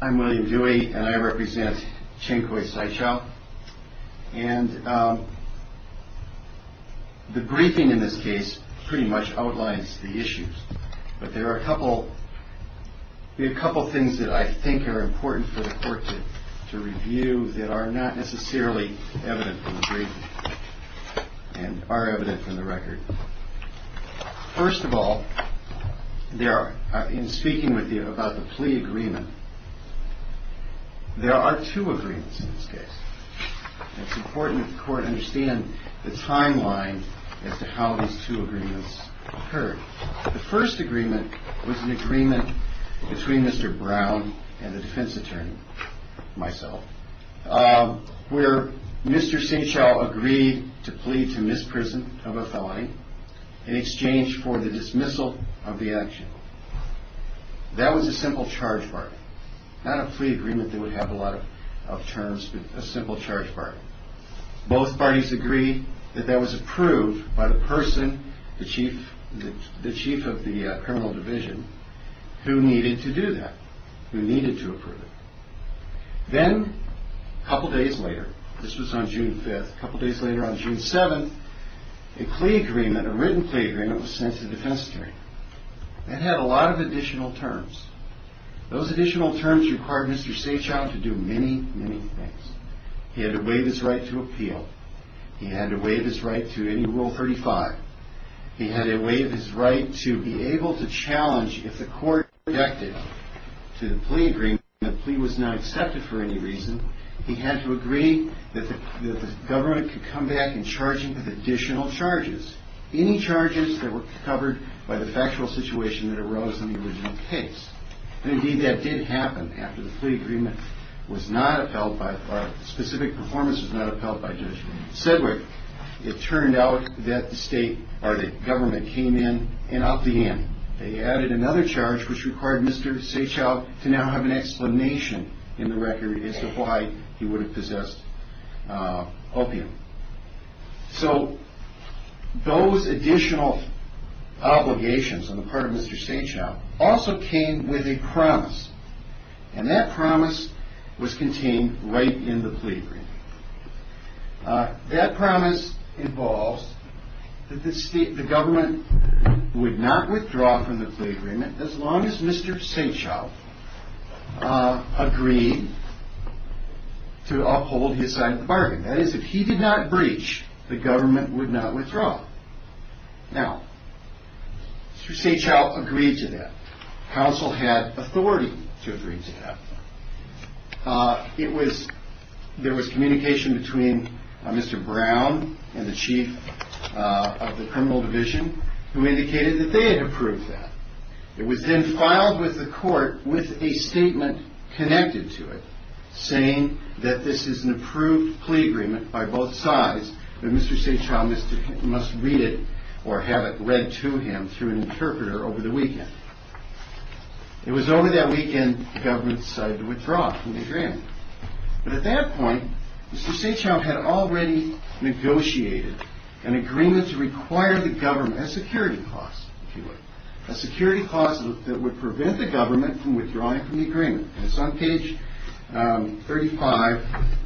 I'm William Dewey and I represent Ching Khoi Saechao and the briefing in this case pretty much outlines the issues but there are a couple a couple things that I think are important for the court to review that are not necessarily evident from the briefing and are evident from the record. First of all there are in there are two agreements in this case. It's important the court understand the timeline as to how these two agreements occurred. The first agreement was an agreement between Mr. Brown and the defense attorney, myself, where Mr. Saechao agreed to plead to misprison of a felony in exchange for the dismissal of the action. That was a simple charge bargain, not a plea agreement that would have a lot of terms, but a simple charge bargain. Both parties agree that that was approved by the person, the chief of the criminal division, who needed to do that, who needed to approve it. Then a couple days later, this was on June 5th, a couple days later on June 7th, a plea agreement, a written plea agreement was sent to the defense attorney. That had a lot of additional terms. Those additional terms required Mr. Saechao to do many, many things. He had to waive his right to appeal. He had to waive his right to any Rule 35. He had to waive his right to be able to challenge if the court objected to the plea agreement, the plea was not accepted for any reason, he had to agree that the government could come back and charge him with additional charges, any charges that were covered by the factual situation that arose in the original case. And indeed, that did happen after the plea agreement was not upheld by, or specific performance was not upheld by Judge Sedgwick. It turned out that the state, or the government, came in and upped the ante. They added another charge which required Mr. Saechao to now have an explanation in the record as to why he would have possessed opium. So, those additional obligations on the part of Mr. Saechao also came with a promise, and that promise was contained right in the plea agreement. That promise involves that the state, the government, would not withdraw from the plea agreement as long as Mr. Saechao agreed to uphold his side of the bargain. That is, if he did not breach, the government would not withdraw. Now, Mr. Saechao agreed to that. The Council had authority to agree to that. It was, there was communication between Mr. Brown and the Chief of the Criminal Division who indicated that they had approved that. It was then filed with the court with a statement connected to it. Saying that this is an approved plea agreement by both sides, that Mr. Saechao must read it, or have it read to him through an interpreter over the weekend. It was over that weekend, the government decided to withdraw from the agreement. But at that point, Mr. Saechao had already negotiated an agreement to require the government, a security clause, if you will, a security clause that would prevent the government from withdrawing from the agreement. And it's on page 35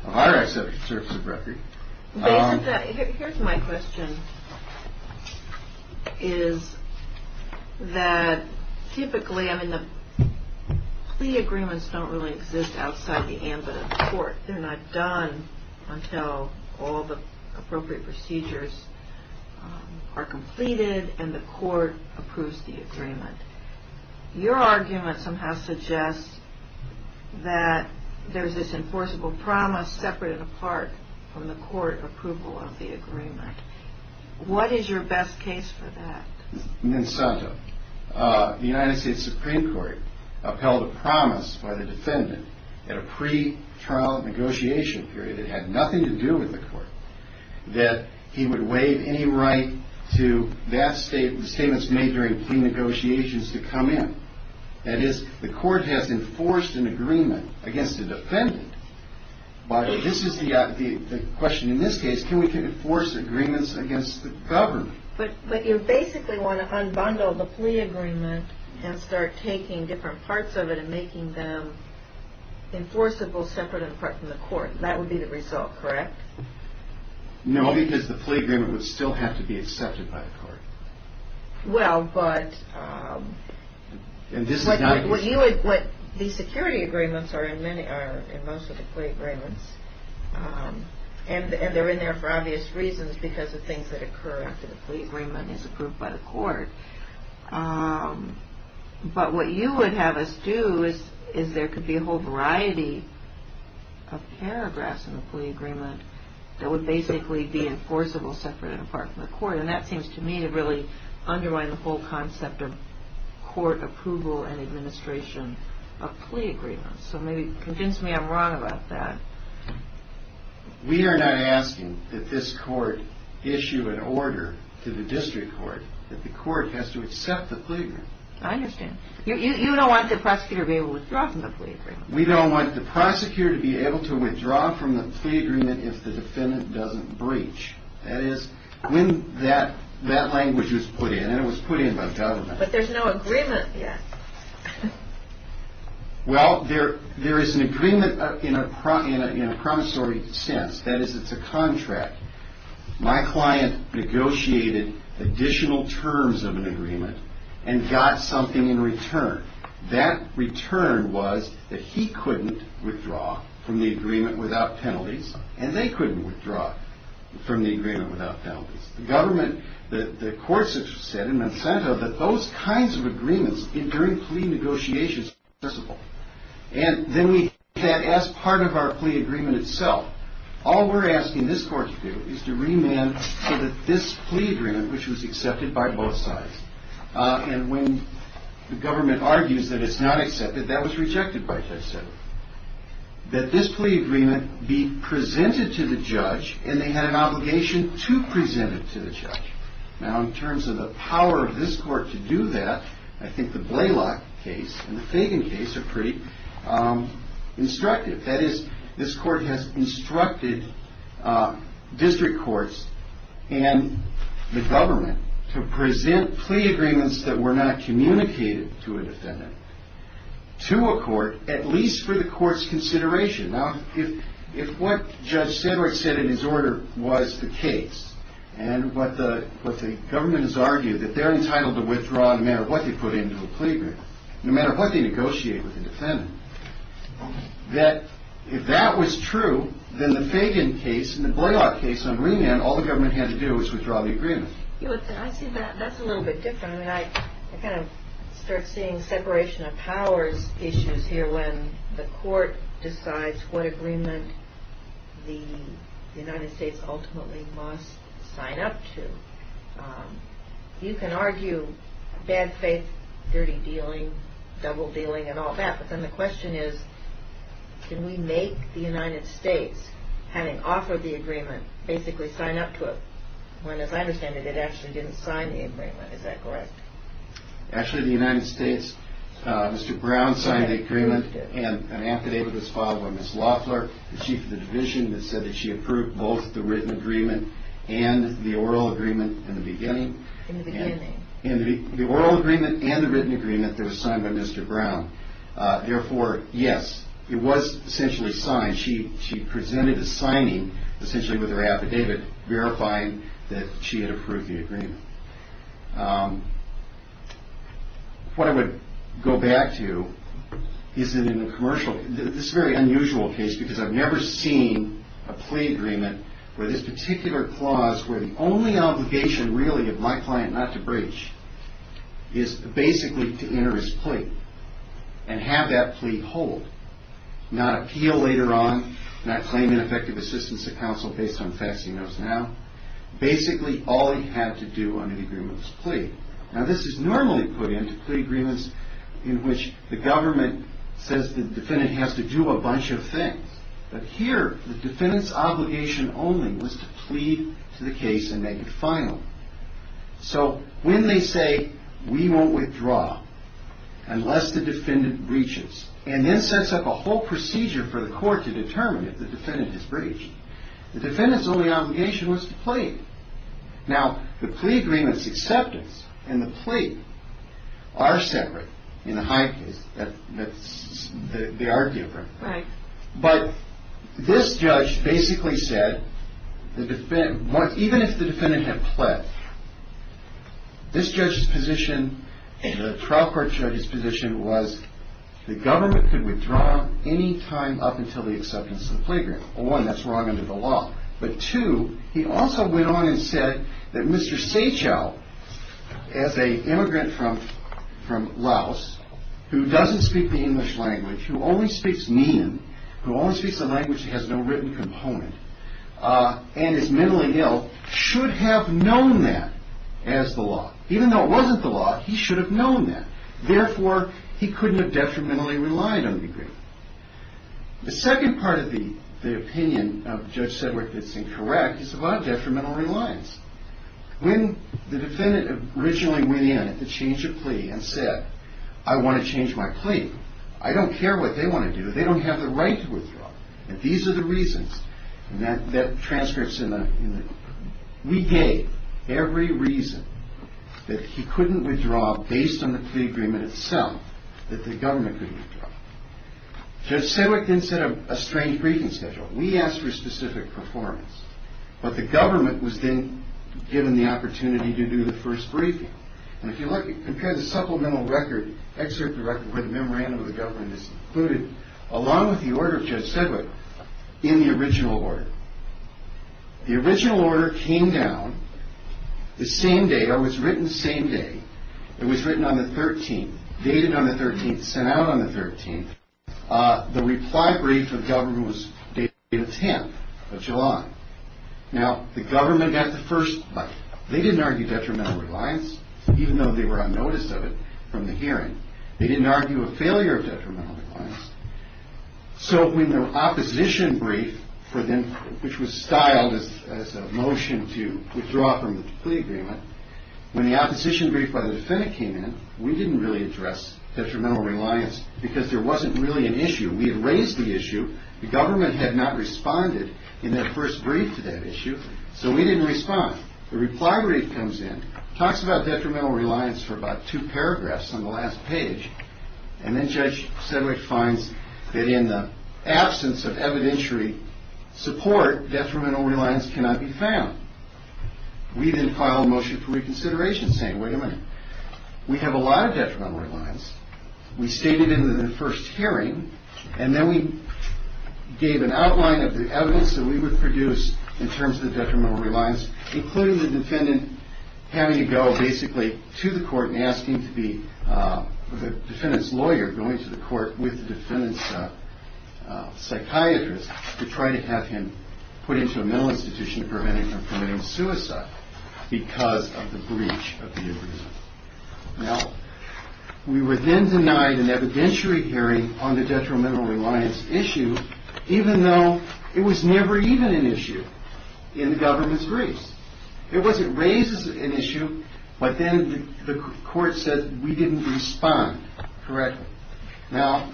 of our acts of conservative record. Basically, here's my question, is that typically, I mean, the plea agreements don't really exist outside the ambit of the court. They're not done until all the appropriate procedures are completed and the court approves the agreement. Your argument somehow suggests that there's this enforceable promise separate and apart from the court approval of the agreement. What is your best case for that? The United States Supreme Court upheld a promise by the defendant at a pre-trial negotiation period that had nothing to do with the court that he would waive any right to statements made during plea negotiations to come in. That is, the court has enforced an agreement against the defendant. But this is the question in this case, can we enforce agreements against the government? But you basically want to unbundle the plea agreement and start taking different parts of it and making them enforceable separate and apart from the court. That would be the result, correct? No, because the plea agreement would still have to be accepted by the court. Well, but the security agreements are in most of the plea agreements and they're in there for obvious reasons because of things that occur after the plea agreement is approved by the court. But what you would have us do is there could be a whole variety of paragraphs in the plea agreement that would basically be enforceable separate and apart from the court. And that seems to me to really undermine the whole concept of court approval and administration of plea agreements. So maybe convince me I'm wrong about that. We are not asking that this court issue an order to the district court, that the court has to accept the plea agreement. I understand. You don't want the prosecutor to be able to withdraw from the plea agreement. We don't want the prosecutor to be able to withdraw from the plea agreement if the defendant doesn't breach. That is, when that language was put in, and it was put in by government. But there's no agreement yet. Well, there is an agreement in a promissory sense. That is, it's a contract. My client negotiated additional terms of an agreement and got something in return. That return was that he couldn't withdraw from the agreement without penalties and they couldn't withdraw from the agreement without penalties. The government, the courts have said, in Monsanto, that those kinds of agreements during plea negotiations are not accessible. And then we have that as part of our plea agreement itself. All we're asking this court to do is to remand so that this plea agreement, which was accepted by both sides, and when the government argues that it's not accepted, that was rejected by both sides. That this plea agreement be presented to the judge and they had an obligation to present it to the judge. Now, in terms of the power of this court to do that, I think the Blaylock case and the Fagan case are pretty instructive. That is, this court has instructed district courts and the government to present plea agreements that were not communicated to a defendant to a court, at least for the court's consideration. Now, if what Judge Sedgwick said in his order was the case and what the government has argued, that they're entitled to withdraw no matter what they put into a plea agreement, no matter what they negotiate with the defendant, that if that was true, then the Fagan case and the Blaylock case on remand, all the government had to do was withdraw the agreement. I see that that's a little bit different. I kind of start seeing separation of powers issues here when the court decides what agreement the United States ultimately must sign up to. You can argue bad faith, dirty dealing, double dealing and all that, but then the question is, can we make the United States, having offered the agreement, basically sign up to it? Well, as I understand it, it actually didn't sign the agreement. Is that correct? Actually, the United States, Mr. Brown signed the agreement and an affidavit was filed by Ms. Loeffler, the chief of the division, that said that she approved both the written agreement and the oral agreement in the beginning. In the beginning. In the oral agreement and the written agreement that was signed by Mr. Brown. Therefore, yes, it was essentially signed. She presented a signing essentially with her affidavit verifying that she had approved the agreement. What I would go back to is that in the commercial, this is a very unusual case because I've never seen a plea agreement where this particular clause, where the only obligation really of my client not to breach, is basically to enter his plea and have that plea hold. Not appeal later on, not claim ineffective assistance to counsel based on facts he knows now. Basically, all he had to do under the agreement was plead. Now, this is normally put into plea agreements in which the government says the defendant has to do a bunch of things. But here, the defendant's obligation only was to plead to the case and make it final. So, when they say, we won't withdraw unless the defendant breaches and then sets up a whole procedure for the court to determine if the defendant has breached, the defendant's only obligation was to plead. Now, the plea agreement's acceptance and the plea are separate in the high case. They are different. But this judge basically said, even if the defendant had pled, this judge's position and the trial court judge's position was the government could withdraw any time up until the acceptance of the plea agreement. One, that's wrong under the law. But two, he also went on and said that Mr. Sachow, as an immigrant from Laos, who doesn't speak the English language, who only speaks Mian, who only speaks a language that has no written component, and is mentally ill, should have known that as the law. Even though it wasn't the law, he should have known that. Therefore, he couldn't have detrimentally relied on the agreement. The second part of the opinion of Judge Sedgwick that's incorrect is about detrimental reliance. When the defendant originally went in to change a plea and said, I want to change my plea, I don't care what they want to do, they don't have the right to withdraw. And these are the reasons. And that transcript's in the, we gave every reason that he couldn't withdraw based on the plea agreement itself, that the government couldn't withdraw. Judge Sedgwick then set a strange briefing schedule. We asked for specific performance. But the government was then given the opportunity to do the first briefing. And if you like, you can compare the supplemental record, excerpt the record where the memorandum of the government is included, along with the order of Judge Sedgwick in the original order. The original order came down the same day, or was written the same day. It was written on the 13th, dated on the 13th, sent out on the 13th. The reply brief of the government was dated the 10th of July. Now, the government got the first bite. They didn't argue detrimental reliance, even though they were unnoticed of it from the hearing. They didn't argue a failure of detrimental reliance. So when the opposition brief, which was styled as a motion to withdraw from the plea agreement, when the opposition brief by the defendant came in, we didn't really address detrimental reliance because there wasn't really an issue. We had raised the issue. The government had not responded in their first brief to that issue. So we didn't respond. The reply brief comes in, talks about detrimental reliance for about two paragraphs on the last page. And then Judge Sedgwick finds that in the absence of evidentiary support, detrimental reliance cannot be found. We then file a motion for reconsideration saying, wait a minute. We have a lot of detrimental reliance. We state it in the first hearing. And then we gave an outline of the evidence that we would produce in terms of the detrimental reliance, including the defendant having to go basically to the court and asking to be the defendant's lawyer, going to the court with the defendant's psychiatrist to try to have him put into a mental institution preventing him from committing suicide because of the breach of the agreement. Now, we were then denied an evidentiary hearing on the detrimental reliance issue, even though it was never even an issue in the government's briefs. It was raised as an issue, but then the court said we didn't respond. Correct. Now,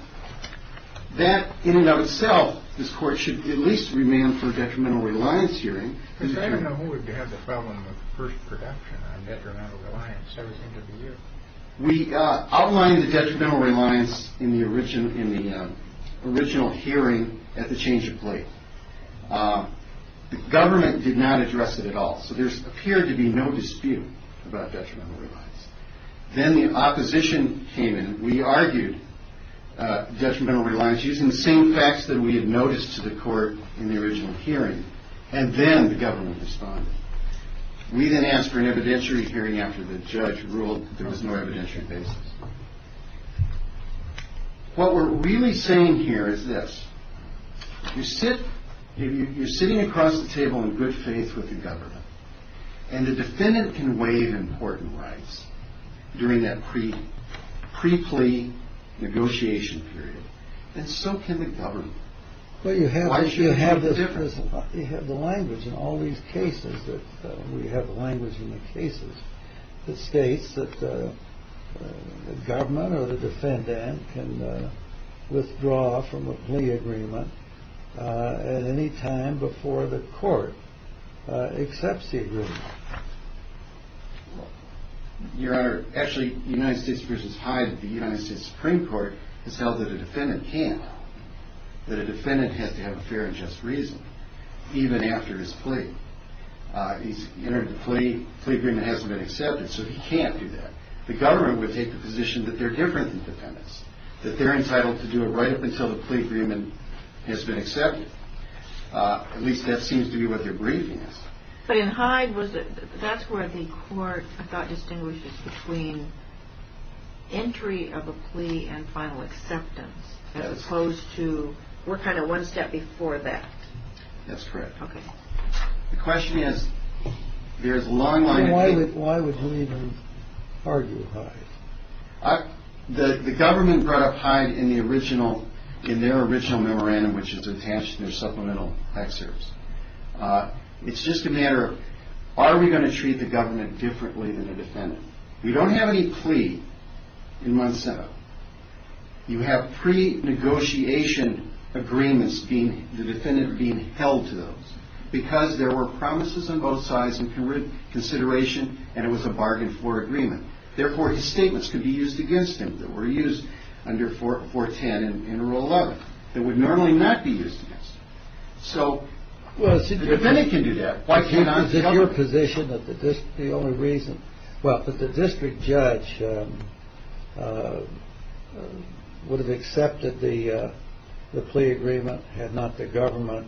that in and of itself, this court should at least remand for a detrimental reliance hearing. I don't know who would have the problem with the first production on detrimental reliance. That would seem to be you. We outlined the detrimental reliance in the original hearing at the change of plate. The government did not address it at all, so there appeared to be no dispute about detrimental reliance. Then the opposition came in. We argued detrimental reliance using the same facts that we had noticed to the court in the original hearing. And then the government responded. We then asked for an evidentiary hearing after the judge ruled there was no evidentiary basis. What we're really saying here is this. You're sitting across the table in good faith with the government, and the defendant can waive important rights during that pre-plea negotiation period, and so can the government. Well, you have the difference. You have the language in all these cases that we have the language in the cases that states that the government or the defendant can withdraw from a plea agreement at any time before the court accepts the agreement. Your Honor, actually, United States versus Hyde, the United States Supreme Court has held that a defendant can't. That a defendant has to have a fair and just reason, even after his plea. He's entered the plea. The plea agreement hasn't been accepted, so he can't do that. The government would take the position that they're different than defendants, that they're entitled to do it right up until the plea agreement has been accepted. At least that seems to be what they're briefing us. But in Hyde, that's where the court, I thought, as opposed to we're kind of one step before that. That's correct. Okay. The question is, there's a long line of people. Why would Hyde argue Hyde? The government brought up Hyde in the original, in their original memorandum, which is attached to their supplemental excerpts. It's just a matter of are we going to treat the government differently than a defendant? We don't have any plea in Monsanto. You have pre-negotiation agreements being, the defendant being held to those, because there were promises on both sides and consideration, and it was a bargain for agreement. Therefore, his statements could be used against him that were used under 410 in Rule 11 that would normally not be used against him. So the defendant can do that. Why can't I? Is it your position that the district, the only reason, well, that the district judge would have accepted the plea agreement had not the government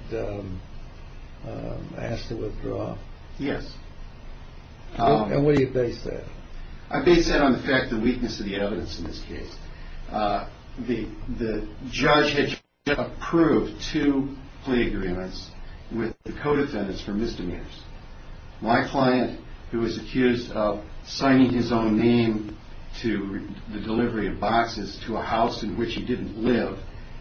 asked to withdraw? Yes. And what do you base that on? I base that on the fact, the weakness of the evidence in this case. The judge had approved two plea agreements with the co-defendants for misdemeanors. My client, who was accused of signing his own name to the delivery of boxes to a house in which he didn't live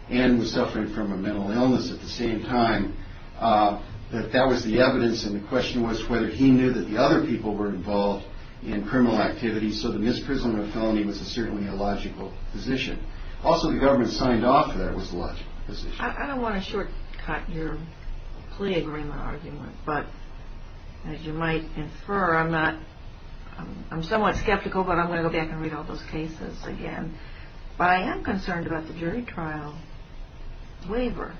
and was suffering from a mental illness at the same time, that that was the evidence, and the question was whether he knew that the other people were involved in criminal activity, so that his prisoner of felony was certainly a logical position. Also, the government signed off that it was a logical position. I don't want to shortcut your plea agreement argument, but as you might infer, I'm somewhat skeptical, but I'm going to go back and read all those cases again. But I am concerned about the jury trial waiver,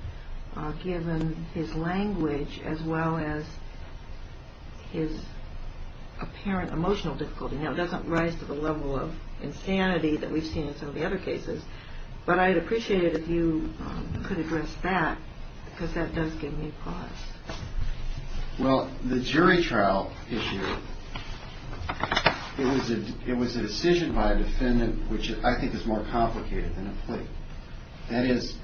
given his language as well as his apparent emotional difficulty. Now, it doesn't rise to the level of insanity that we've seen in some of the other cases, but I'd appreciate it if you could address that, because that does give me pause. Well, the jury trial issue, it was a decision by a defendant which I think is more complicated than a plea. That is,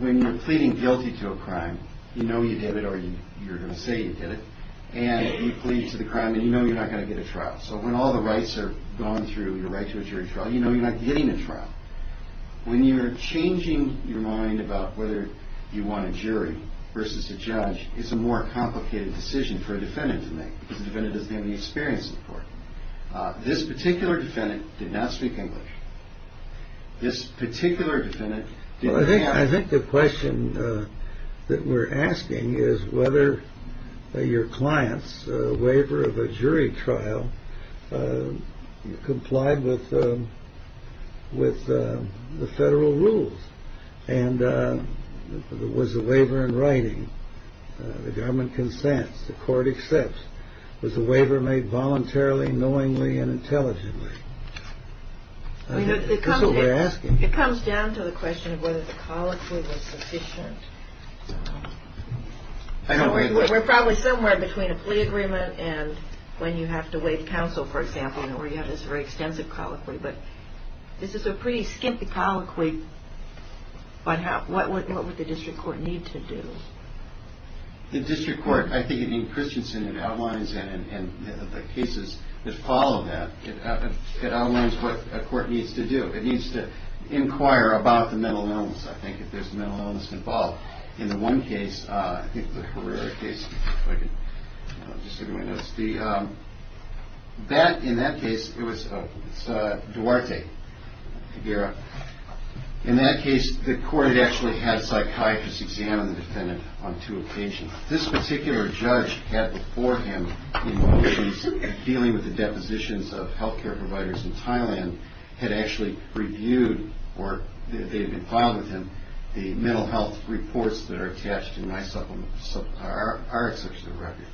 when you're pleading guilty to a crime, you know you did it or you're going to say you did it, and you plead to the crime and you know you're not going to get a trial. So when all the rights are gone through, you're right to a jury trial, you know you're not getting a trial. When you're changing your mind about whether you want a jury versus a judge, it's a more complicated decision for a defendant to make, because the defendant doesn't have any experience in the court. This particular defendant did not speak English. This particular defendant did not. I think the question that we're asking is whether your client's waiver of a jury trial complied with the federal rules. And was the waiver in writing, the government consents, the court accepts, was the waiver made voluntarily, knowingly, and intelligently? That's what we're asking. It comes down to the question of whether the colloquy was sufficient. We're probably somewhere between a plea agreement and when you have to waive counsel, for example, where you have this very extensive colloquy. But this is a pretty skimpy colloquy. But what would the district court need to do? The district court, I think in Christensen, it outlines and the cases that follow that. I think it outlines what a court needs to do. It needs to inquire about the mental illness, I think, if there's mental illness involved. In the one case, I think the Carrera case, if I could just get my notes. That, in that case, it was Duarte. In that case, the court had actually had psychiatrists examine the defendant on two occasions. This particular judge had before him, in dealing with the depositions of health care providers in Thailand, had actually reviewed, or they had been filed with him, the mental health reports that are attached in our exceptional record.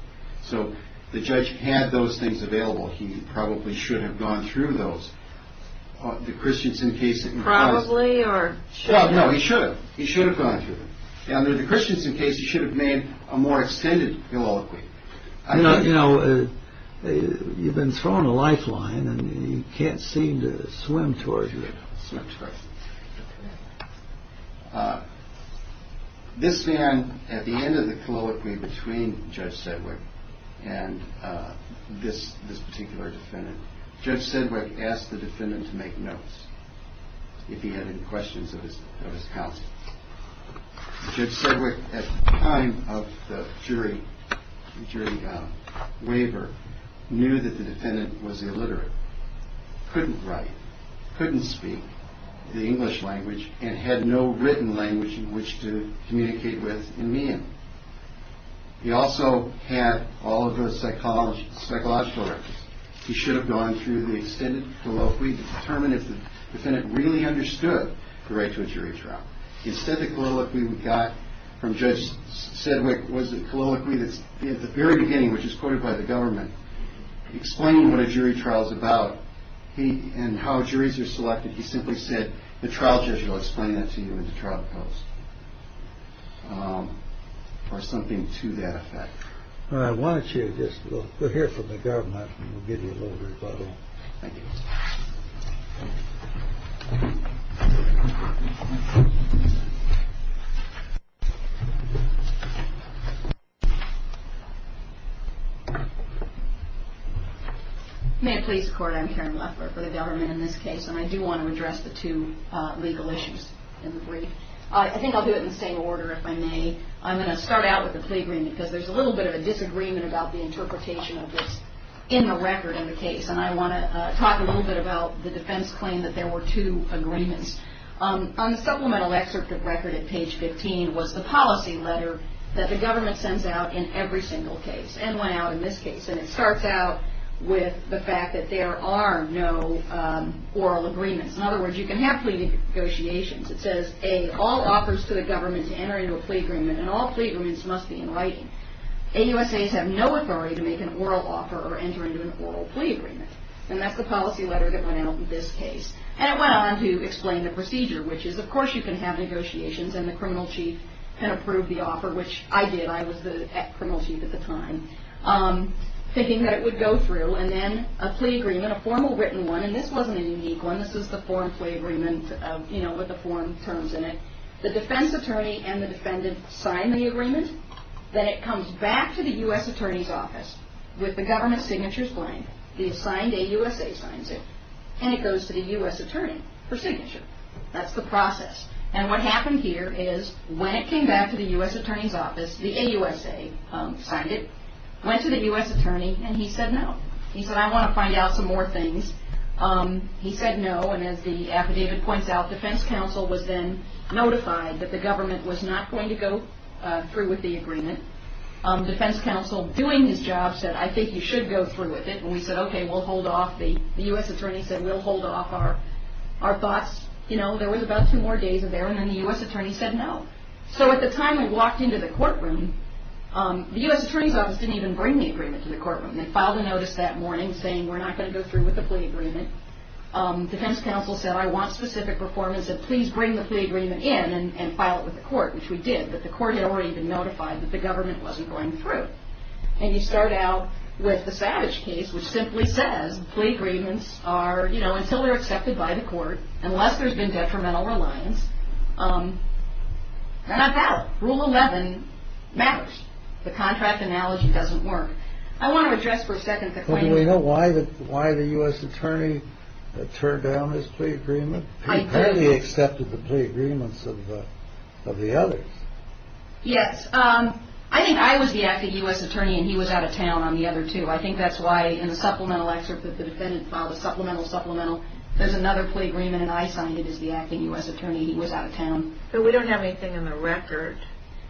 So the judge had those things available. He probably should have gone through those. The Christensen case. Probably or should have? No, he should have. He should have gone through them. In the Christensen case, he should have made a more extended colloquy. You know, you've been thrown a lifeline and you can't seem to swim towards it. This man at the end of the colloquy between Judge Sedgwick and this this particular defendant, Judge Sedgwick asked the defendant to make notes. If he had any questions of his, of his counsel. Judge Sedgwick, at the time of the jury, jury waiver, knew that the defendant was illiterate. Couldn't write, couldn't speak the English language, and had no written language in which to communicate with and meet him. He also had all of those psychological records. He should have gone through the extended. Well, if we determine if the defendant really understood the right to a jury trial, he said that we got from Judge Sedgwick was a colloquy that's at the very beginning, which is quoted by the government. Explain what a jury trial is about. He and how juries are selected. He simply said the trial judge will explain that to you in the trial. Or something to that effect. I want you to just hear from the government. May it please the court. I'm Karen Leffler for the government in this case. And I do want to address the two legal issues in the brief. I think I'll do it in the same order if I may. I'm going to start out with the plea agreement because there's a little bit of a disagreement about the interpretation of this in the record in the case. And I want to talk a little bit about the defense claim that there were two agreements. On the supplemental excerpt of record at page 15 was the policy letter that the government sends out in every single case. And went out in this case. And it starts out with the fact that there are no oral agreements. In other words, you can have plea negotiations. It says, A, all offers to the government to enter into a plea agreement and all plea agreements must be in writing. AUSAs have no authority to make an oral offer or enter into an oral plea agreement. And that's the policy letter that went out in this case. And it went on to explain the procedure, which is, of course, you can have negotiations and the criminal chief can approve the offer, which I did. I was the criminal chief at the time. Thinking that it would go through. And then a plea agreement, a formal written one. And this wasn't a unique one. This is the foreign plea agreement with the foreign terms in it. The defense attorney and the defendant sign the agreement. Then it comes back to the U.S. Attorney's Office with the government signatures blank. The assigned AUSA signs it. And it goes to the U.S. Attorney for signature. That's the process. And what happened here is when it came back to the U.S. Attorney's Office, the AUSA signed it. Went to the U.S. Attorney and he said no. He said, I want to find out some more things. He said no. And as the affidavit points out, defense counsel was then notified that the government was not going to go through with the agreement. Defense counsel, doing his job, said, I think you should go through with it. And we said, okay, we'll hold off. The U.S. Attorney said, we'll hold off our thoughts. You know, there was about two more days of there. And then the U.S. Attorney said no. So at the time we walked into the courtroom, the U.S. Attorney's Office didn't even bring the agreement to the courtroom. They filed a notice that morning saying we're not going to go through with the plea agreement. Defense counsel said, I want specific reform. He said, please bring the plea agreement in and file it with the court, which we did. But the court had already been notified that the government wasn't going through. And you start out with the Savage case, which simply says plea agreements are, you know, until they're accepted by the court, unless there's been detrimental reliance, they're not valid. Rule 11 matters. The contract analogy doesn't work. I want to address for a second the claim. Do we know why the U.S. Attorney turned down his plea agreement? I do. He apparently accepted the plea agreements of the others. Yes. I think I was the acting U.S. Attorney and he was out of town on the other two. I think that's why in the supplemental excerpt that the defendant filed, the supplemental, supplemental, there's another plea agreement and I signed it as the acting U.S. Attorney. He was out of town. But we don't have anything in the record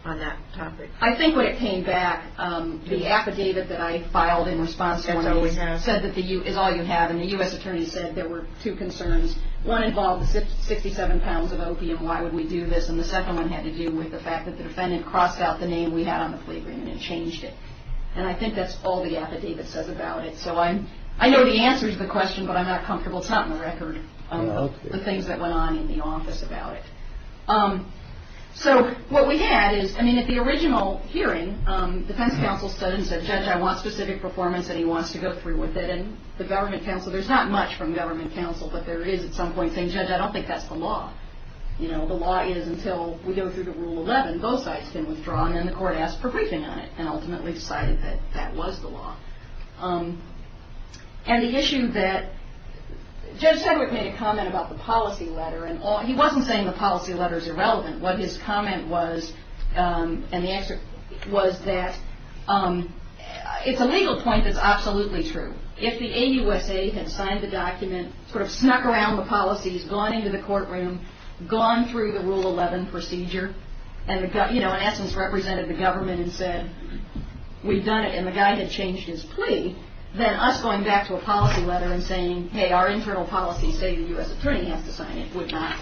on that topic. I think when it came back, the affidavit that I filed in response to one of these said that the U.S. is all you have. And the U.S. Attorney said there were two concerns. One involved 67 pounds of opium. Why would we do this? And the second one had to do with the fact that the defendant crossed out the name we had on the plea agreement and changed it. And I think that's all the affidavit says about it. So I know the answer to the question, but I'm not comfortable. It's not in the record, the things that went on in the office about it. So what we had is, I mean, at the original hearing, the defense counsel stood and said, Judge, I want specific performance and he wants to go free with it. And the government counsel, there's not much from government counsel, but there is at some point saying, Judge, I don't think that's the law. You know, the law is until we go through the Rule 11, both sides can withdraw. And then the court asked for briefing on it and ultimately decided that that was the law. And the issue that Judge Sedgwick made a comment about the policy letter, and he wasn't saying the policy letter is irrelevant. What his comment was, and the answer was that it's a legal point that's absolutely true. If the AUSA had signed the document, sort of snuck around the policies, gone into the courtroom, gone through the Rule 11 procedure, and, you know, in essence represented the government and said, we've done it, and the guy had changed his plea, say the U.S. attorney has to sign it, would not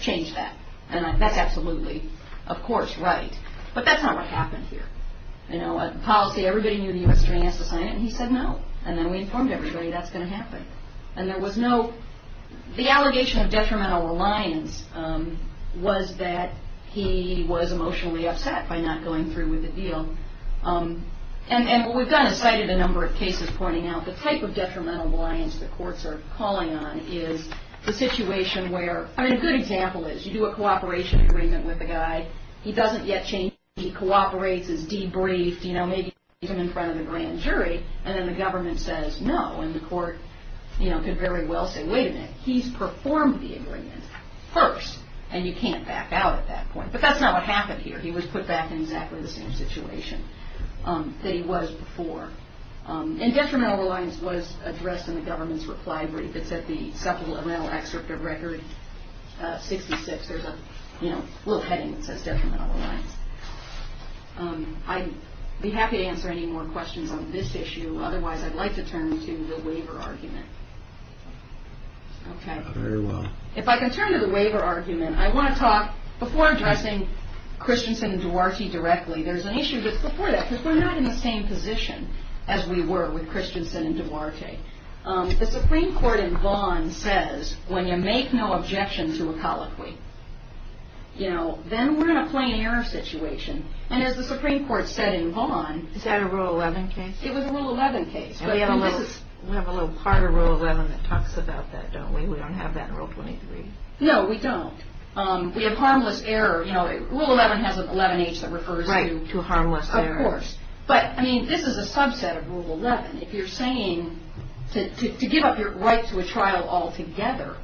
change that. And that's absolutely, of course, right. But that's not what happened here. You know, a policy, everybody knew the U.S. attorney has to sign it, and he said no. And then we informed everybody that's going to happen. And there was no, the allegation of detrimental reliance was that he was emotionally upset by not going through with the deal. And what we've done is cited a number of cases pointing out the type of detrimental reliance that courts are calling on is the situation where, I mean, a good example is you do a cooperation agreement with a guy, he doesn't yet change, he cooperates, he's debriefed, you know, maybe he's in front of the grand jury, and then the government says no. And the court, you know, could very well say, wait a minute, he's performed the agreement first, and you can't back out at that point. But that's not what happened here. He was put back in exactly the same situation that he was before. And detrimental reliance was addressed in the government's reply brief. It's at the supplemental excerpt of Record 66. There's a, you know, little heading that says detrimental reliance. I'd be happy to answer any more questions on this issue. Otherwise, I'd like to turn to the waiver argument. Okay. Very well. If I can turn to the waiver argument, I want to talk, before addressing Christensen and Duarte directly, there's an issue before that because we're not in the same position as we were with Christensen and Duarte. The Supreme Court in Vaughn says when you make no objection to a colloquy, you know, then we're in a plain error situation. And as the Supreme Court said in Vaughn. Is that a Rule 11 case? It was a Rule 11 case. We have a little part of Rule 11 that talks about that, don't we? We don't have that in Rule 23. No, we don't. We have harmless error. Rule 11 has an 11-H that refers to harmless error. Of course. But, I mean, this is a subset of Rule 11. If you're saying to give up your right to a trial altogether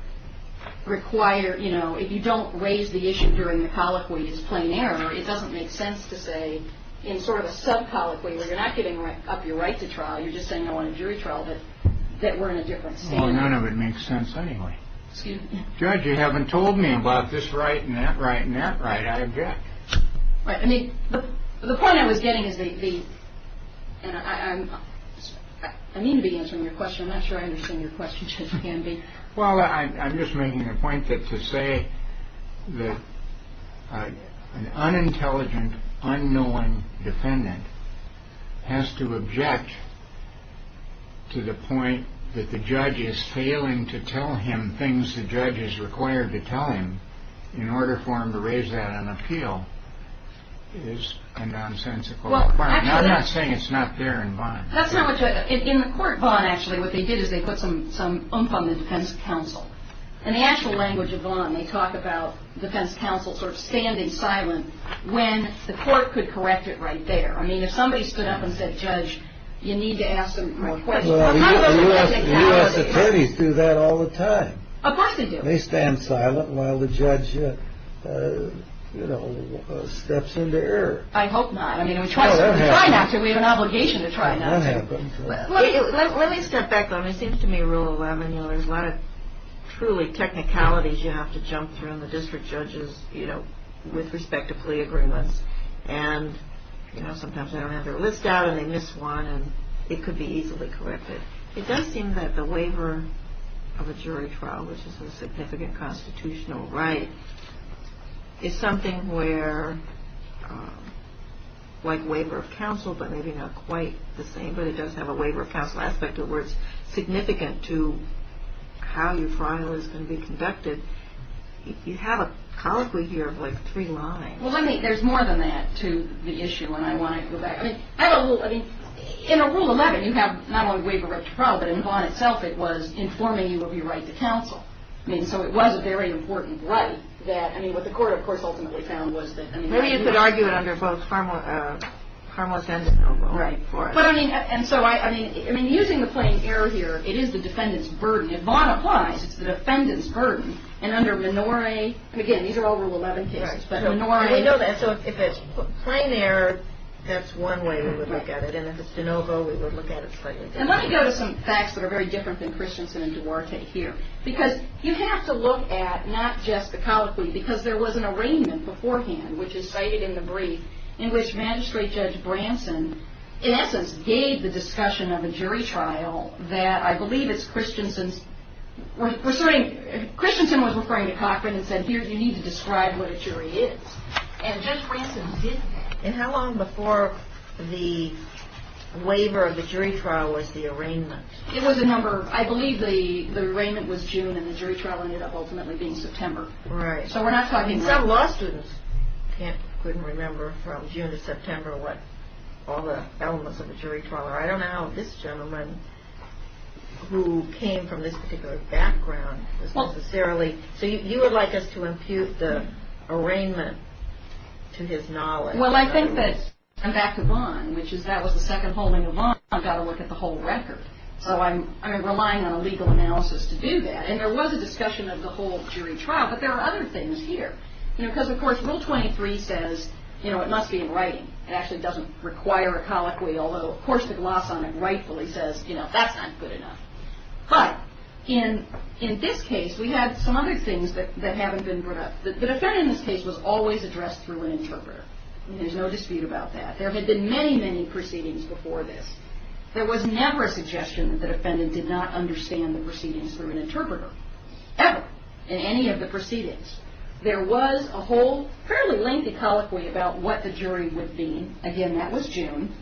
require, you know, if you don't raise the issue during the colloquy as plain error, it doesn't make sense to say in sort of a sub-colloquy where you're not giving up your right to trial, you're just saying I want a jury trial, that we're in a different standard. Well, none of it makes sense anyway. Excuse me? Judge, you haven't told me about this right and that right and that right. I object. Right. I mean, the point I was getting is the – and I mean to be answering your question. I'm not sure I understand your question, Judge Canby. Well, I'm just making the point that to say that an unintelligent, unknowing defendant has to object to the point that the judge is failing to tell him things the judge is required to tell him in order for him to raise that on appeal is a nonsensical point. I'm not saying it's not fair in Vaughan. That's not what you're – in the court of Vaughan, actually, what they did is they put some oomph on the defense counsel. In the actual language of Vaughan, they talk about defense counsel sort of standing silent when the court could correct it right there. I mean, if somebody stood up and said, Judge, you need to ask some more questions. Well, the U.S. attorneys do that all the time. Of course they do. They stand silent while the judge, you know, steps into error. I hope not. I mean, we try not to. We have an obligation to try not to. That happens. Let me step back, though. I mean, it seems to me, Rule 11, you know, there's a lot of truly technicalities you have to jump through when the district judge is, you know, with respect to plea agreements. And, you know, sometimes they don't have their list out and they miss one, and it could be easily corrected. It does seem that the waiver of a jury trial, which is a significant constitutional right, is something where, like waiver of counsel, but maybe not quite the same, but it does have a waiver of counsel aspect to it where it's significant to how your trial is going to be conducted. You have a colloquy here of, like, three lines. Well, I mean, there's more than that to the issue, and I want to go back. I mean, in Rule 11, you have not only waiver of trial, but in Vaughan itself it was informing you of your right to counsel. I mean, so it was a very important right that, I mean, what the court, of course, ultimately found was that, I mean... Maybe you could argue it under both criminal and constitutional law. Right. But, I mean, and so I mean, I mean, using the plain error here, it is the defendant's burden. If Vaughan applies, it's the defendant's burden. And under Menore, again, these are all Rule 11 cases, but Menore... I know that. So if it's plain error, that's one way we would look at it. And if it's de novo, we would look at it slightly differently. And let me go to some facts that are very different than Christensen and Duarte here. Because you have to look at not just the colloquy, because there was an arraignment beforehand, which is cited in the brief, in which Magistrate Judge Branson, in essence, gave the discussion of a jury trial that I believe it's Christensen's... Christensen was referring to Cochran and said, here, you need to describe what a jury is. And Judge Branson did that. And how long before the waiver of the jury trial was the arraignment? It was a number... I believe the arraignment was June and the jury trial ended up ultimately being September. Right. So we're not talking... Some law students couldn't remember from June to September what all the elements of a jury trial are. I don't know how this gentleman, who came from this particular background, was necessarily... So you would like us to impute the arraignment to his knowledge. Well, I think that... I'm back to Vaughan, which is that was the second hole in the Vaughan. I've got to look at the whole record. So I'm relying on a legal analysis to do that. And there was a discussion of the whole jury trial, but there are other things here. You know, because, of course, Rule 23 says, you know, it must be in writing. It actually doesn't require a colloquy, although, of course, the gloss on it rightfully says, you know, that's not good enough. But in this case, we had some other things that haven't been brought up. The defendant in this case was always addressed through an interpreter. There's no dispute about that. There had been many, many proceedings before this. There was never a suggestion that the defendant did not understand the proceedings through an interpreter, ever, in any of the proceedings. There was a whole fairly lengthy colloquy about what the jury would be. Again, that was June.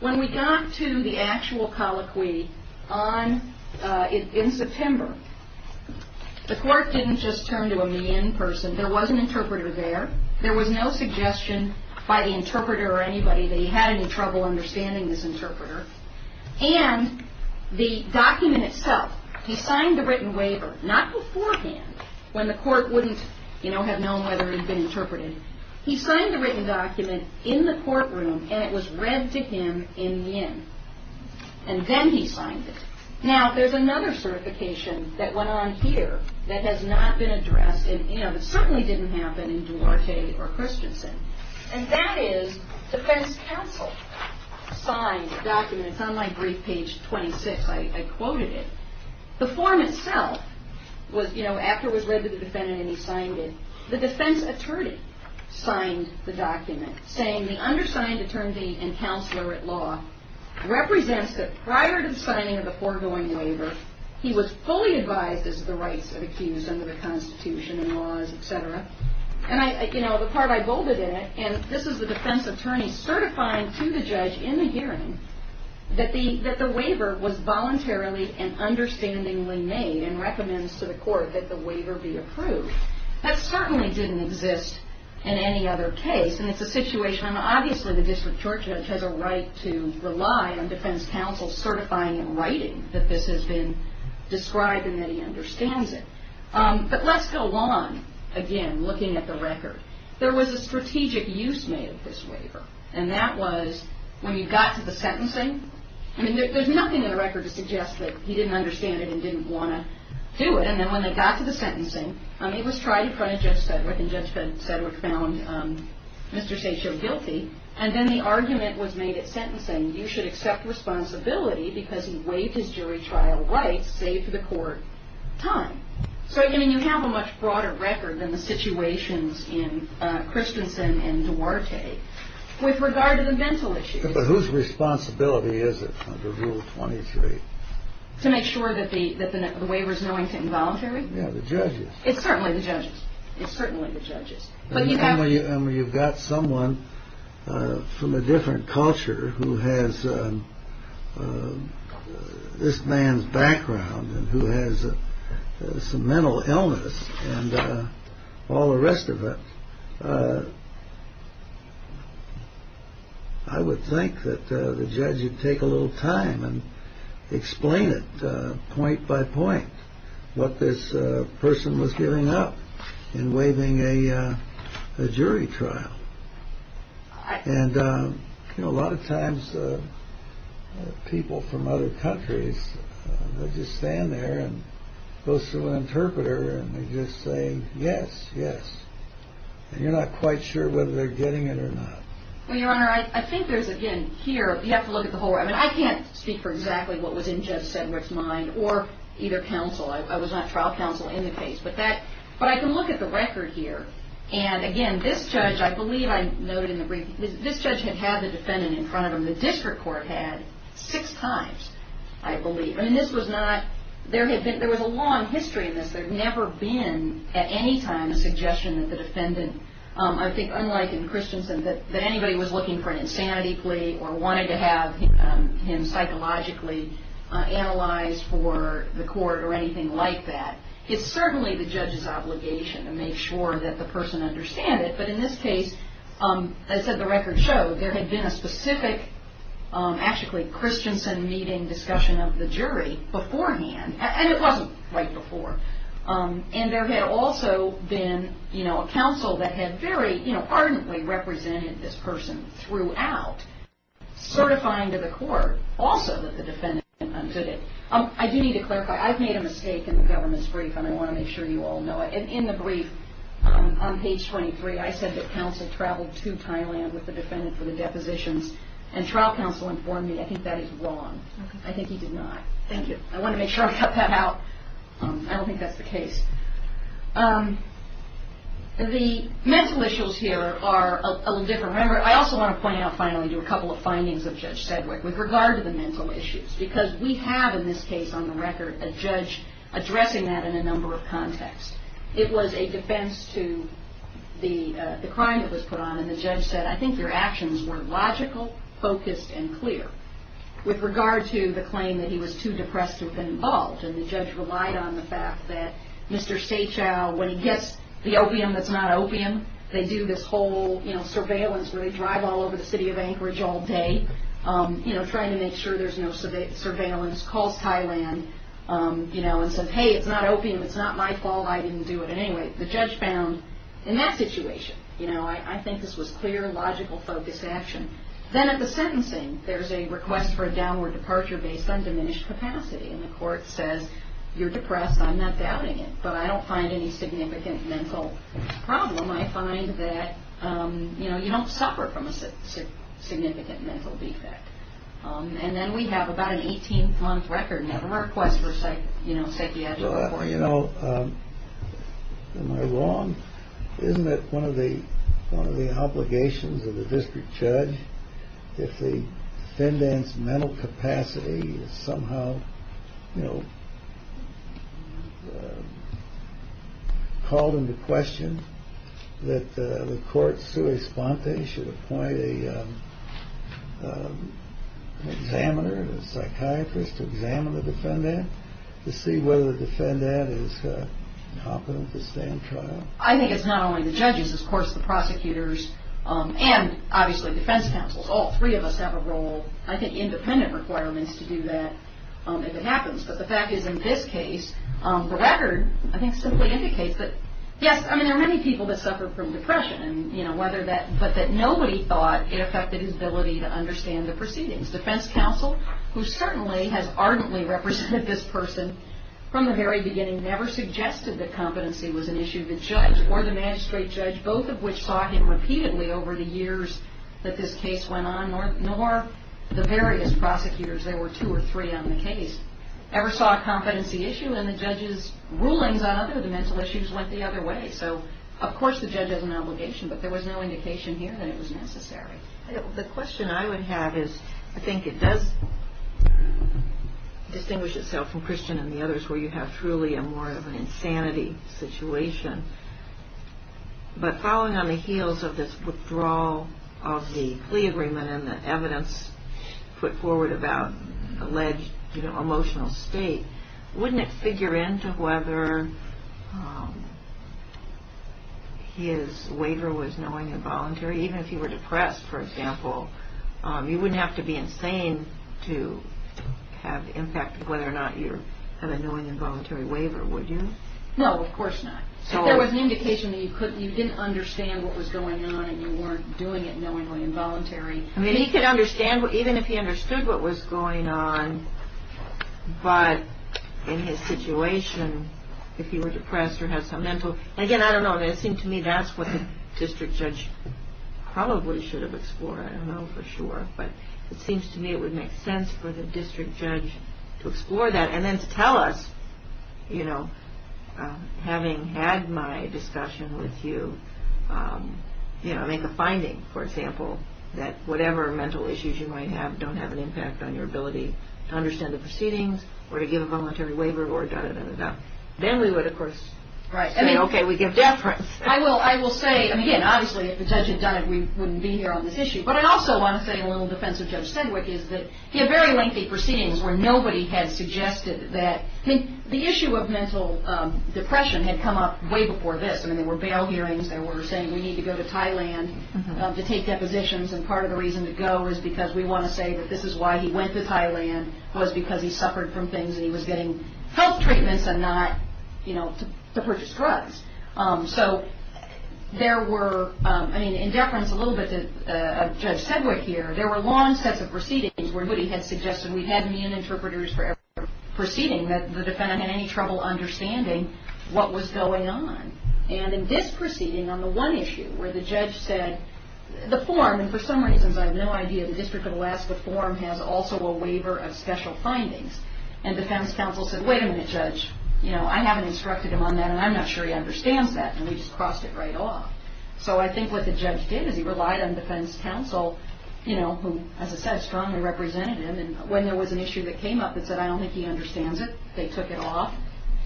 When we got to the actual colloquy in September, the court didn't just turn to a me-in person. There was an interpreter there. There was no suggestion by the interpreter or anybody that he had any trouble understanding this interpreter. And the document itself, he signed the written waiver, not beforehand, when the court wouldn't, you know, have known whether he'd been interpreted. He signed the written document in the courtroom, and it was read to him in yin. And then he signed it. Now, there's another certification that went on here that has not been addressed, and, you know, that certainly didn't happen in Duarte or Christensen. And that is defense counsel signed a document. It's on my brief page 26. I quoted it. The form itself was, you know, after it was read to the defendant and he signed it, the defense attorney signed the document saying, the undersigned attorney and counselor at law represents that prior to the signing of the foregoing waiver, he was fully advised as to the rights of the accused under the Constitution and laws, et cetera. And I, you know, the part I bolded in it, and this is the defense attorney certifying to the judge in the hearing that the waiver was voluntarily and understandingly made and recommends to the court that the waiver be approved. That certainly didn't exist in any other case, and it's a situation, and obviously the district court judge has a right to rely on defense counsel certifying in writing that this has been described and that he understands it. But let's go on, again, looking at the record. There was a strategic use made of this waiver, and that was when you got to the sentencing. I mean, there's nothing in the record to suggest that he didn't understand it and didn't want to do it, and then when they got to the sentencing, it was tried in front of Judge Sedgwick, and Judge Sedgwick found Mr. Satchel guilty, and then the argument was made at sentencing, you should accept responsibility because he waived his jury trial rights, save for the court time. So, I mean, you have a much broader record than the situations in Christensen and Duarte. With regard to the mental issues. But whose responsibility is it under Rule 23? To make sure that the waiver is knowingly involuntary? Yeah, the judge's. It's certainly the judge's. It's certainly the judge's. I mean, you've got someone from a different culture who has this man's background and who has some mental illness and all the rest of it. I would think that the judge would take a little time and explain it point by point, what this person was giving up in waiving a jury trial. And, you know, a lot of times people from other countries, they just stand there and go to an interpreter and they just say, yes, yes. And you're not quite sure whether they're getting it or not. Well, Your Honor, I think there's, again, here, you have to look at the whole, I mean, I can't speak for exactly what was in Judge Sedgwick's mind or either counsel. I was not trial counsel in the case. But I can look at the record here. And, again, this judge, I believe I noted in the briefing, this judge had had the defendant in front of him. The district court had six times, I believe. I mean, this was not, there was a long history of this. There had never been at any time a suggestion that the defendant, I think unlike in Christensen, that anybody was looking for an insanity plea or wanted to have him psychologically analyzed for the court or anything like that. It's certainly the judge's obligation to make sure that the person understands it. But in this case, as the record showed, there had been a specific actually Christensen meeting discussion of the jury beforehand. And it wasn't right before. And there had also been, you know, counsel that had very ardently represented this person throughout, certifying to the court also that the defendant did it. I do need to clarify. I've made a mistake in the government's brief, and I want to make sure you all know it. In the brief, on page 23, I said that counsel traveled to Thailand with the defendant for the depositions. And trial counsel informed me I think that is wrong. I think he did not. Thank you. I want to make sure I cut that out. I don't think that's the case. The mental issues here are a little different. Remember, I also want to point out finally to a couple of findings of Judge Sedgwick with regard to the mental issues. Because we have in this case on the record a judge addressing that in a number of contexts. It was a defense to the crime that was put on, and the judge said, I think your actions were logical, focused, and clear. With regard to the claim that he was too depressed to have been involved, and the judge relied on the fact that Mr. Seh Chow, when he gets the opium that's not opium, they do this whole surveillance where they drive all over the city of Anchorage all day, trying to make sure there's no surveillance, calls Thailand and says, Hey, it's not opium. It's not my fault. I didn't do it. Anyway, the judge found in that situation, I think this was clear, logical, focused action. Then at the sentencing, there's a request for a downward departure based on diminished capacity. And the court says, You're depressed. I'm not doubting it. But I don't find any significant mental problem. I find that you don't suffer from a significant mental defect. And then we have about an 18-month record. We have a request for psychiatry. You know, am I wrong? Isn't that one of the obligations of the district judge? If the defendant's mental capacity is somehow, you know, called into question, that the court should appoint an examiner, a psychiatrist to examine the defendant to see whether the defendant is incompetent to stand trial. I think it's not only the judges. Of course, the prosecutors and obviously defense counsels, all three of us have a role. I think independent requirements to do that if it happens. But the fact is, in this case, the record, I think, simply indicates that, yes, I mean, there are many people that suffer from depression. And, you know, whether that but that nobody thought it affected his ability to understand the proceedings. Defense counsel, who certainly has ardently represented this person from the very beginning, never suggested that competency was an issue. The judge or the magistrate judge, both of which saw him repeatedly over the years that this case went on, nor the various prosecutors, there were two or three on the case, ever saw a competency issue. And the judge's rulings on other mental issues went the other way. So, of course, the judge has an obligation. But there was no indication here that it was necessary. The question I would have is, I think it does distinguish itself from Christian and the others where you have truly a more of an insanity situation. But following on the heels of this withdrawal of the plea agreement and the evidence put forward about alleged emotional state, wouldn't it figure into whether his waiver was knowing and voluntary, or even if he were depressed, for example, you wouldn't have to be insane to have the impact of whether or not you have a knowing and voluntary waiver, would you? No, of course not. If there was an indication that you couldn't, you didn't understand what was going on and you weren't doing it knowingly and voluntarily. I mean, he could understand, even if he understood what was going on, but in his situation, if he were depressed or had some mental... probably should have explored, I don't know for sure, but it seems to me it would make sense for the district judge to explore that and then to tell us, you know, having had my discussion with you, you know, make a finding, for example, that whatever mental issues you might have don't have an impact on your ability to understand the proceedings or to give a voluntary waiver or da-da-da-da-da. Then we would, of course, say, okay, we give deference. I will say, I mean, again, obviously if the judge had done it, we wouldn't be here on this issue, but I'd also want to say, in a little defense of Judge Sedgwick, is that he had very lengthy proceedings where nobody had suggested that... I mean, the issue of mental depression had come up way before this. I mean, there were bail hearings. There were saying we need to go to Thailand to take depositions, and part of the reason to go is because we want to say that this is why he went to Thailand was because he suffered from things and he was getting health treatments and not, you know, to purchase drugs. So there were, I mean, in deference a little bit to Judge Sedgwick here, there were long sets of proceedings where nobody had suggested, we had mean interpreters for every proceeding that the defendant had any trouble understanding what was going on. And in this proceeding on the one issue where the judge said, the form, and for some reasons I have no idea, the District of Alaska form has also a waiver of special findings, and defense counsel said, wait a minute, judge, you know, I haven't instructed him on that and I'm not sure he understands that, and we just crossed it right off. So I think what the judge did is he relied on defense counsel, you know, who, as I said, strongly represented him, and when there was an issue that came up that said I don't think he understands it, they took it off,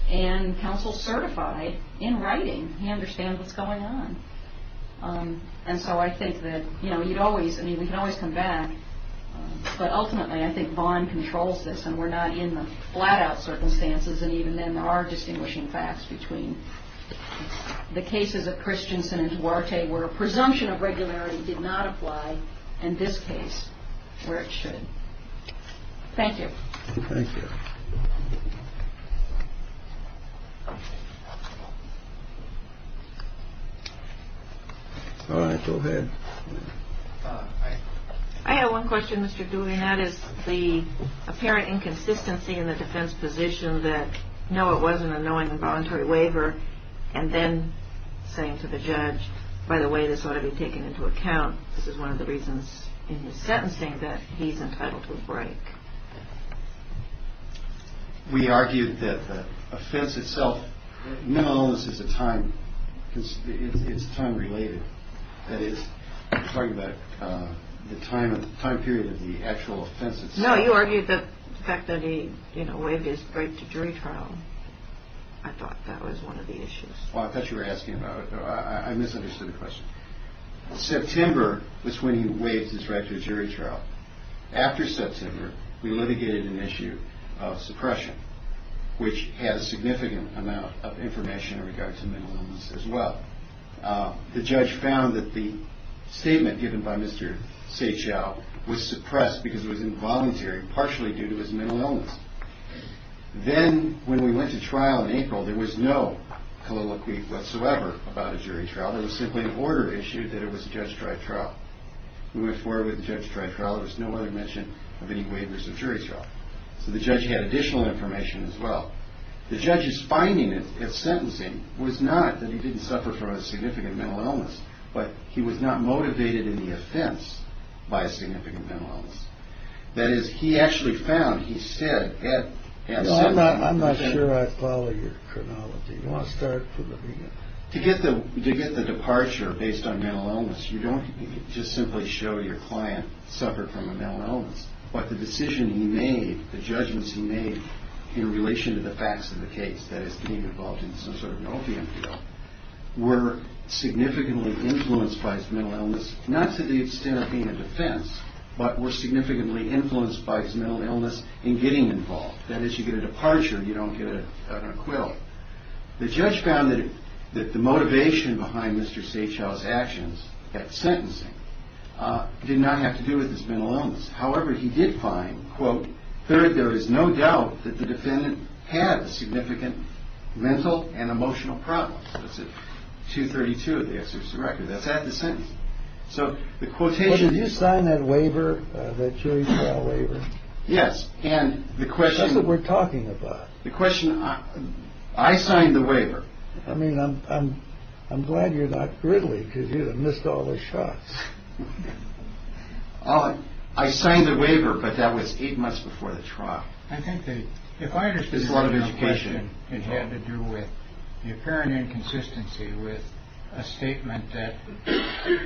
and counsel certified in writing he understands what's going on. And so I think that, you know, you'd always, I mean, we can always come back, but ultimately I think Vaughn controls this and we're not in the flat-out circumstances, and even then there are distinguishing facts between the cases of Christensen and Duarte where a presumption of regularity did not apply, and this case where it should. Thank you. Thank you. All right, go ahead. I have one question, Mr. Duvin. That is the apparent inconsistency in the defense position that, no, it was an unknowing voluntary waiver, and then saying to the judge, by the way, this ought to be taken into account, this is one of the reasons in his sentencing that he's entitled to a break. We argued that the offense itself, no, this is a time, it's time-related. That is, I'm talking about the time period of the actual offense itself. No, you argued the fact that he, you know, waived his right to jury trial. I thought that was one of the issues. Well, I thought you were asking about it. I misunderstood the question. September was when he waived his right to a jury trial. After September, we litigated an issue of suppression, which had a significant amount of information in regard to mental illness as well. The judge found that the statement given by Mr. Sehjial was suppressed because it was involuntary, partially due to his mental illness. Then when we went to trial in April, there was no colloquy whatsoever about a jury trial. There was simply an order issued that it was a judge-striped trial. We went forward with a judge-striped trial. There was no other mention of any waivers of jury trial. So the judge had additional information as well. The judge's finding at sentencing was not that he didn't suffer from a significant mental illness, but he was not motivated in the offense by a significant mental illness. That is, he actually found he said at sentencing... I'm not sure I follow your chronology. Do you want to start from the beginning? To get the departure based on mental illness, you don't just simply show your client suffered from a mental illness, but the decision he made, the judgments he made in relation to the facts of the case, that is, being involved in some sort of an opium deal, were significantly influenced by his mental illness, not to the extent of being a defense, but were significantly influenced by his mental illness in getting involved. That is, you get a departure, you don't get an acquittal. The judge found that the motivation behind Mr. Satchel's actions at sentencing did not have to do with his mental illness. However, he did find, quote, that there is no doubt that the defendant had a significant mental and emotional problem. That's at 232 of the excerpts of the record. That's at the sentence. So the quotation... Did you sign that waiver, that jury trial waiver? Yes, and the question... That's what we're talking about. The question... I signed the waiver. I mean, I'm glad you're not griddly, because you'd have missed all the shots. I signed the waiver, but that was eight months before the trial. I think that if I understand your question, it had to do with the apparent inconsistency with a statement that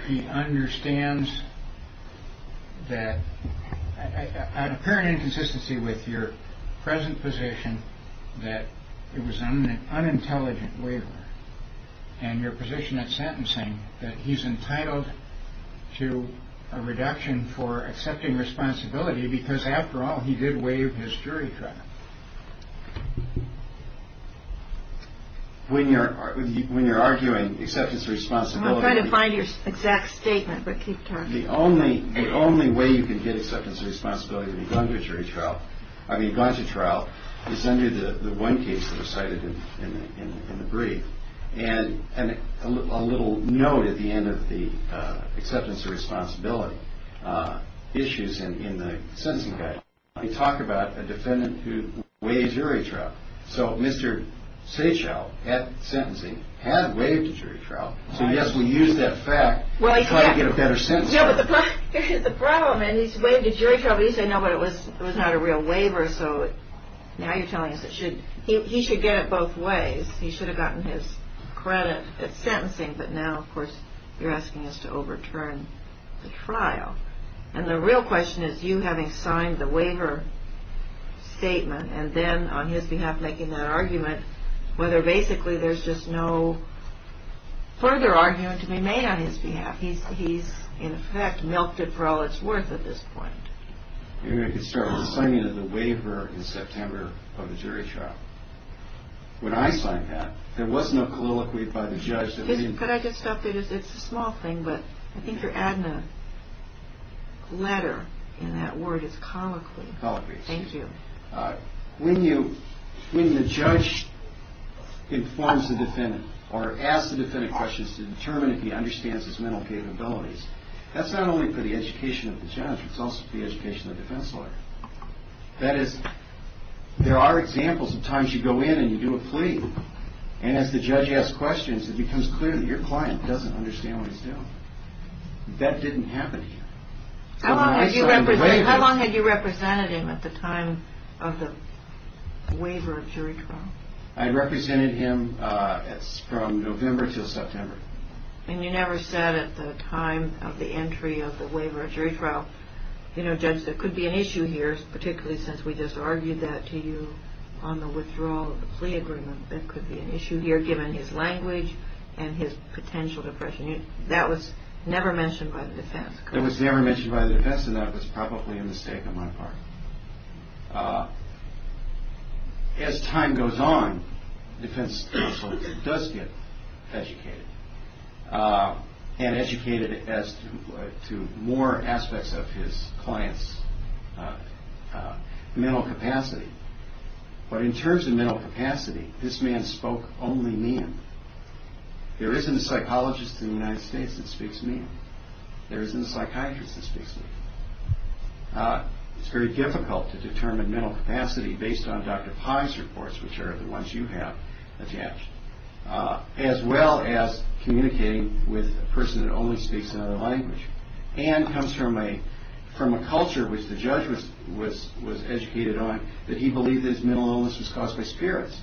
he understands that... that it was an unintelligent waiver. And your position at sentencing, that he's entitled to a reduction for accepting responsibility, because after all, he did waive his jury trial. When you're arguing acceptance of responsibility... I'm trying to find your exact statement, but keep talking. The only way you can get acceptance of responsibility when you've gone to a jury trial, I mean, gone to trial, is under the one case that was cited in the brief. And a little note at the end of the acceptance of responsibility issues in the sentencing guide. We talk about a defendant who waived jury trial. So Mr. Sachow, at sentencing, had waived a jury trial. So yes, we used that fact to try to get a better sentence. No, but the problem is, he's waived a jury trial, but you say, no, but it was not a real waiver, so now you're telling us that he should get it both ways. He should have gotten his credit at sentencing, but now, of course, you're asking us to overturn the trial. And the real question is, you having signed the waiver statement, and then on his behalf making that argument, whether basically there's just no further argument to be made on his behalf. He's, in effect, milked it for all it's worth at this point. Maybe I could start with the signing of the waiver in September of the jury trial. When I signed that, there was no colloquy by the judge. Could I just stop there? It's a small thing, but I think you're adding a letter in that word. It's colloquy. Thank you. When the judge informs the defendant, or asks the defendant questions to determine if he understands his mental capabilities, that's not only for the education of the judge, it's also for the education of the defense lawyer. That is, there are examples of times you go in and you do a plea, and as the judge asks questions, it becomes clear that your client doesn't understand what he's doing. That didn't happen to him. How long had you represented him at the time of the waiver of jury trial? I represented him from November until September. And you never said at the time of the entry of the waiver of jury trial, you know, Judge, there could be an issue here, particularly since we just argued that to you on the withdrawal of the plea agreement, there could be an issue here given his language and his potential depression. That was never mentioned by the defense. It was never mentioned by the defense, and that was probably a mistake on my part. As time goes on, the defense counsel does get educated, and educated as to more aspects of his client's mental capacity. But in terms of mental capacity, this man spoke only me. There isn't a psychologist in the United States that speaks me. There isn't a psychiatrist that speaks me. It's very difficult to determine mental capacity based on Dr. Pai's reports, which are the ones you have attached, as well as communicating with a person that only speaks another language and comes from a culture which the judge was educated on, that he believed that his mental illness was caused by spirits,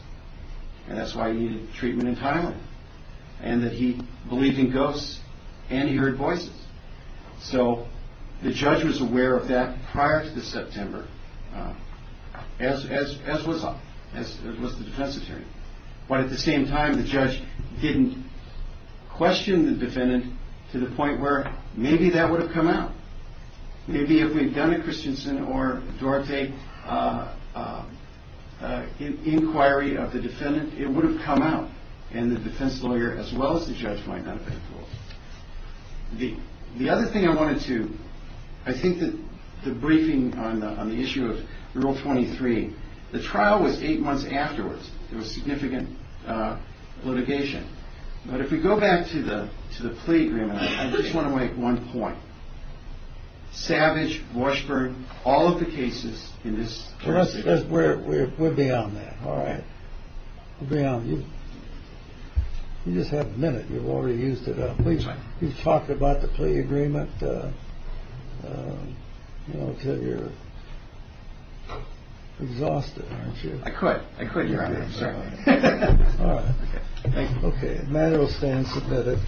and that's why he needed treatment in Thailand, and that he believed in ghosts and he heard voices. So the judge was aware of that prior to the September, as was I, as was the defense attorney. But at the same time, the judge didn't question the defendant to the point where maybe that would have come out. Maybe if we had done a Christensen or Dorte inquiry of the defendant, it would have come out, and the defense lawyer as well as the judge might not have been fooled. The other thing I wanted to... I think that the briefing on the issue of Rule 23, the trial was eight months afterwards. There was significant litigation. But if we go back to the plea agreement, I just want to make one point. Savage, Washburn, all of the cases in this case... We're beyond that. All right. We're beyond. You just have a minute. You've already used it up. You've talked about the plea agreement until you're exhausted, aren't you? I quit. I quit, Your Honor. All right. Okay. The matter will stand submitted.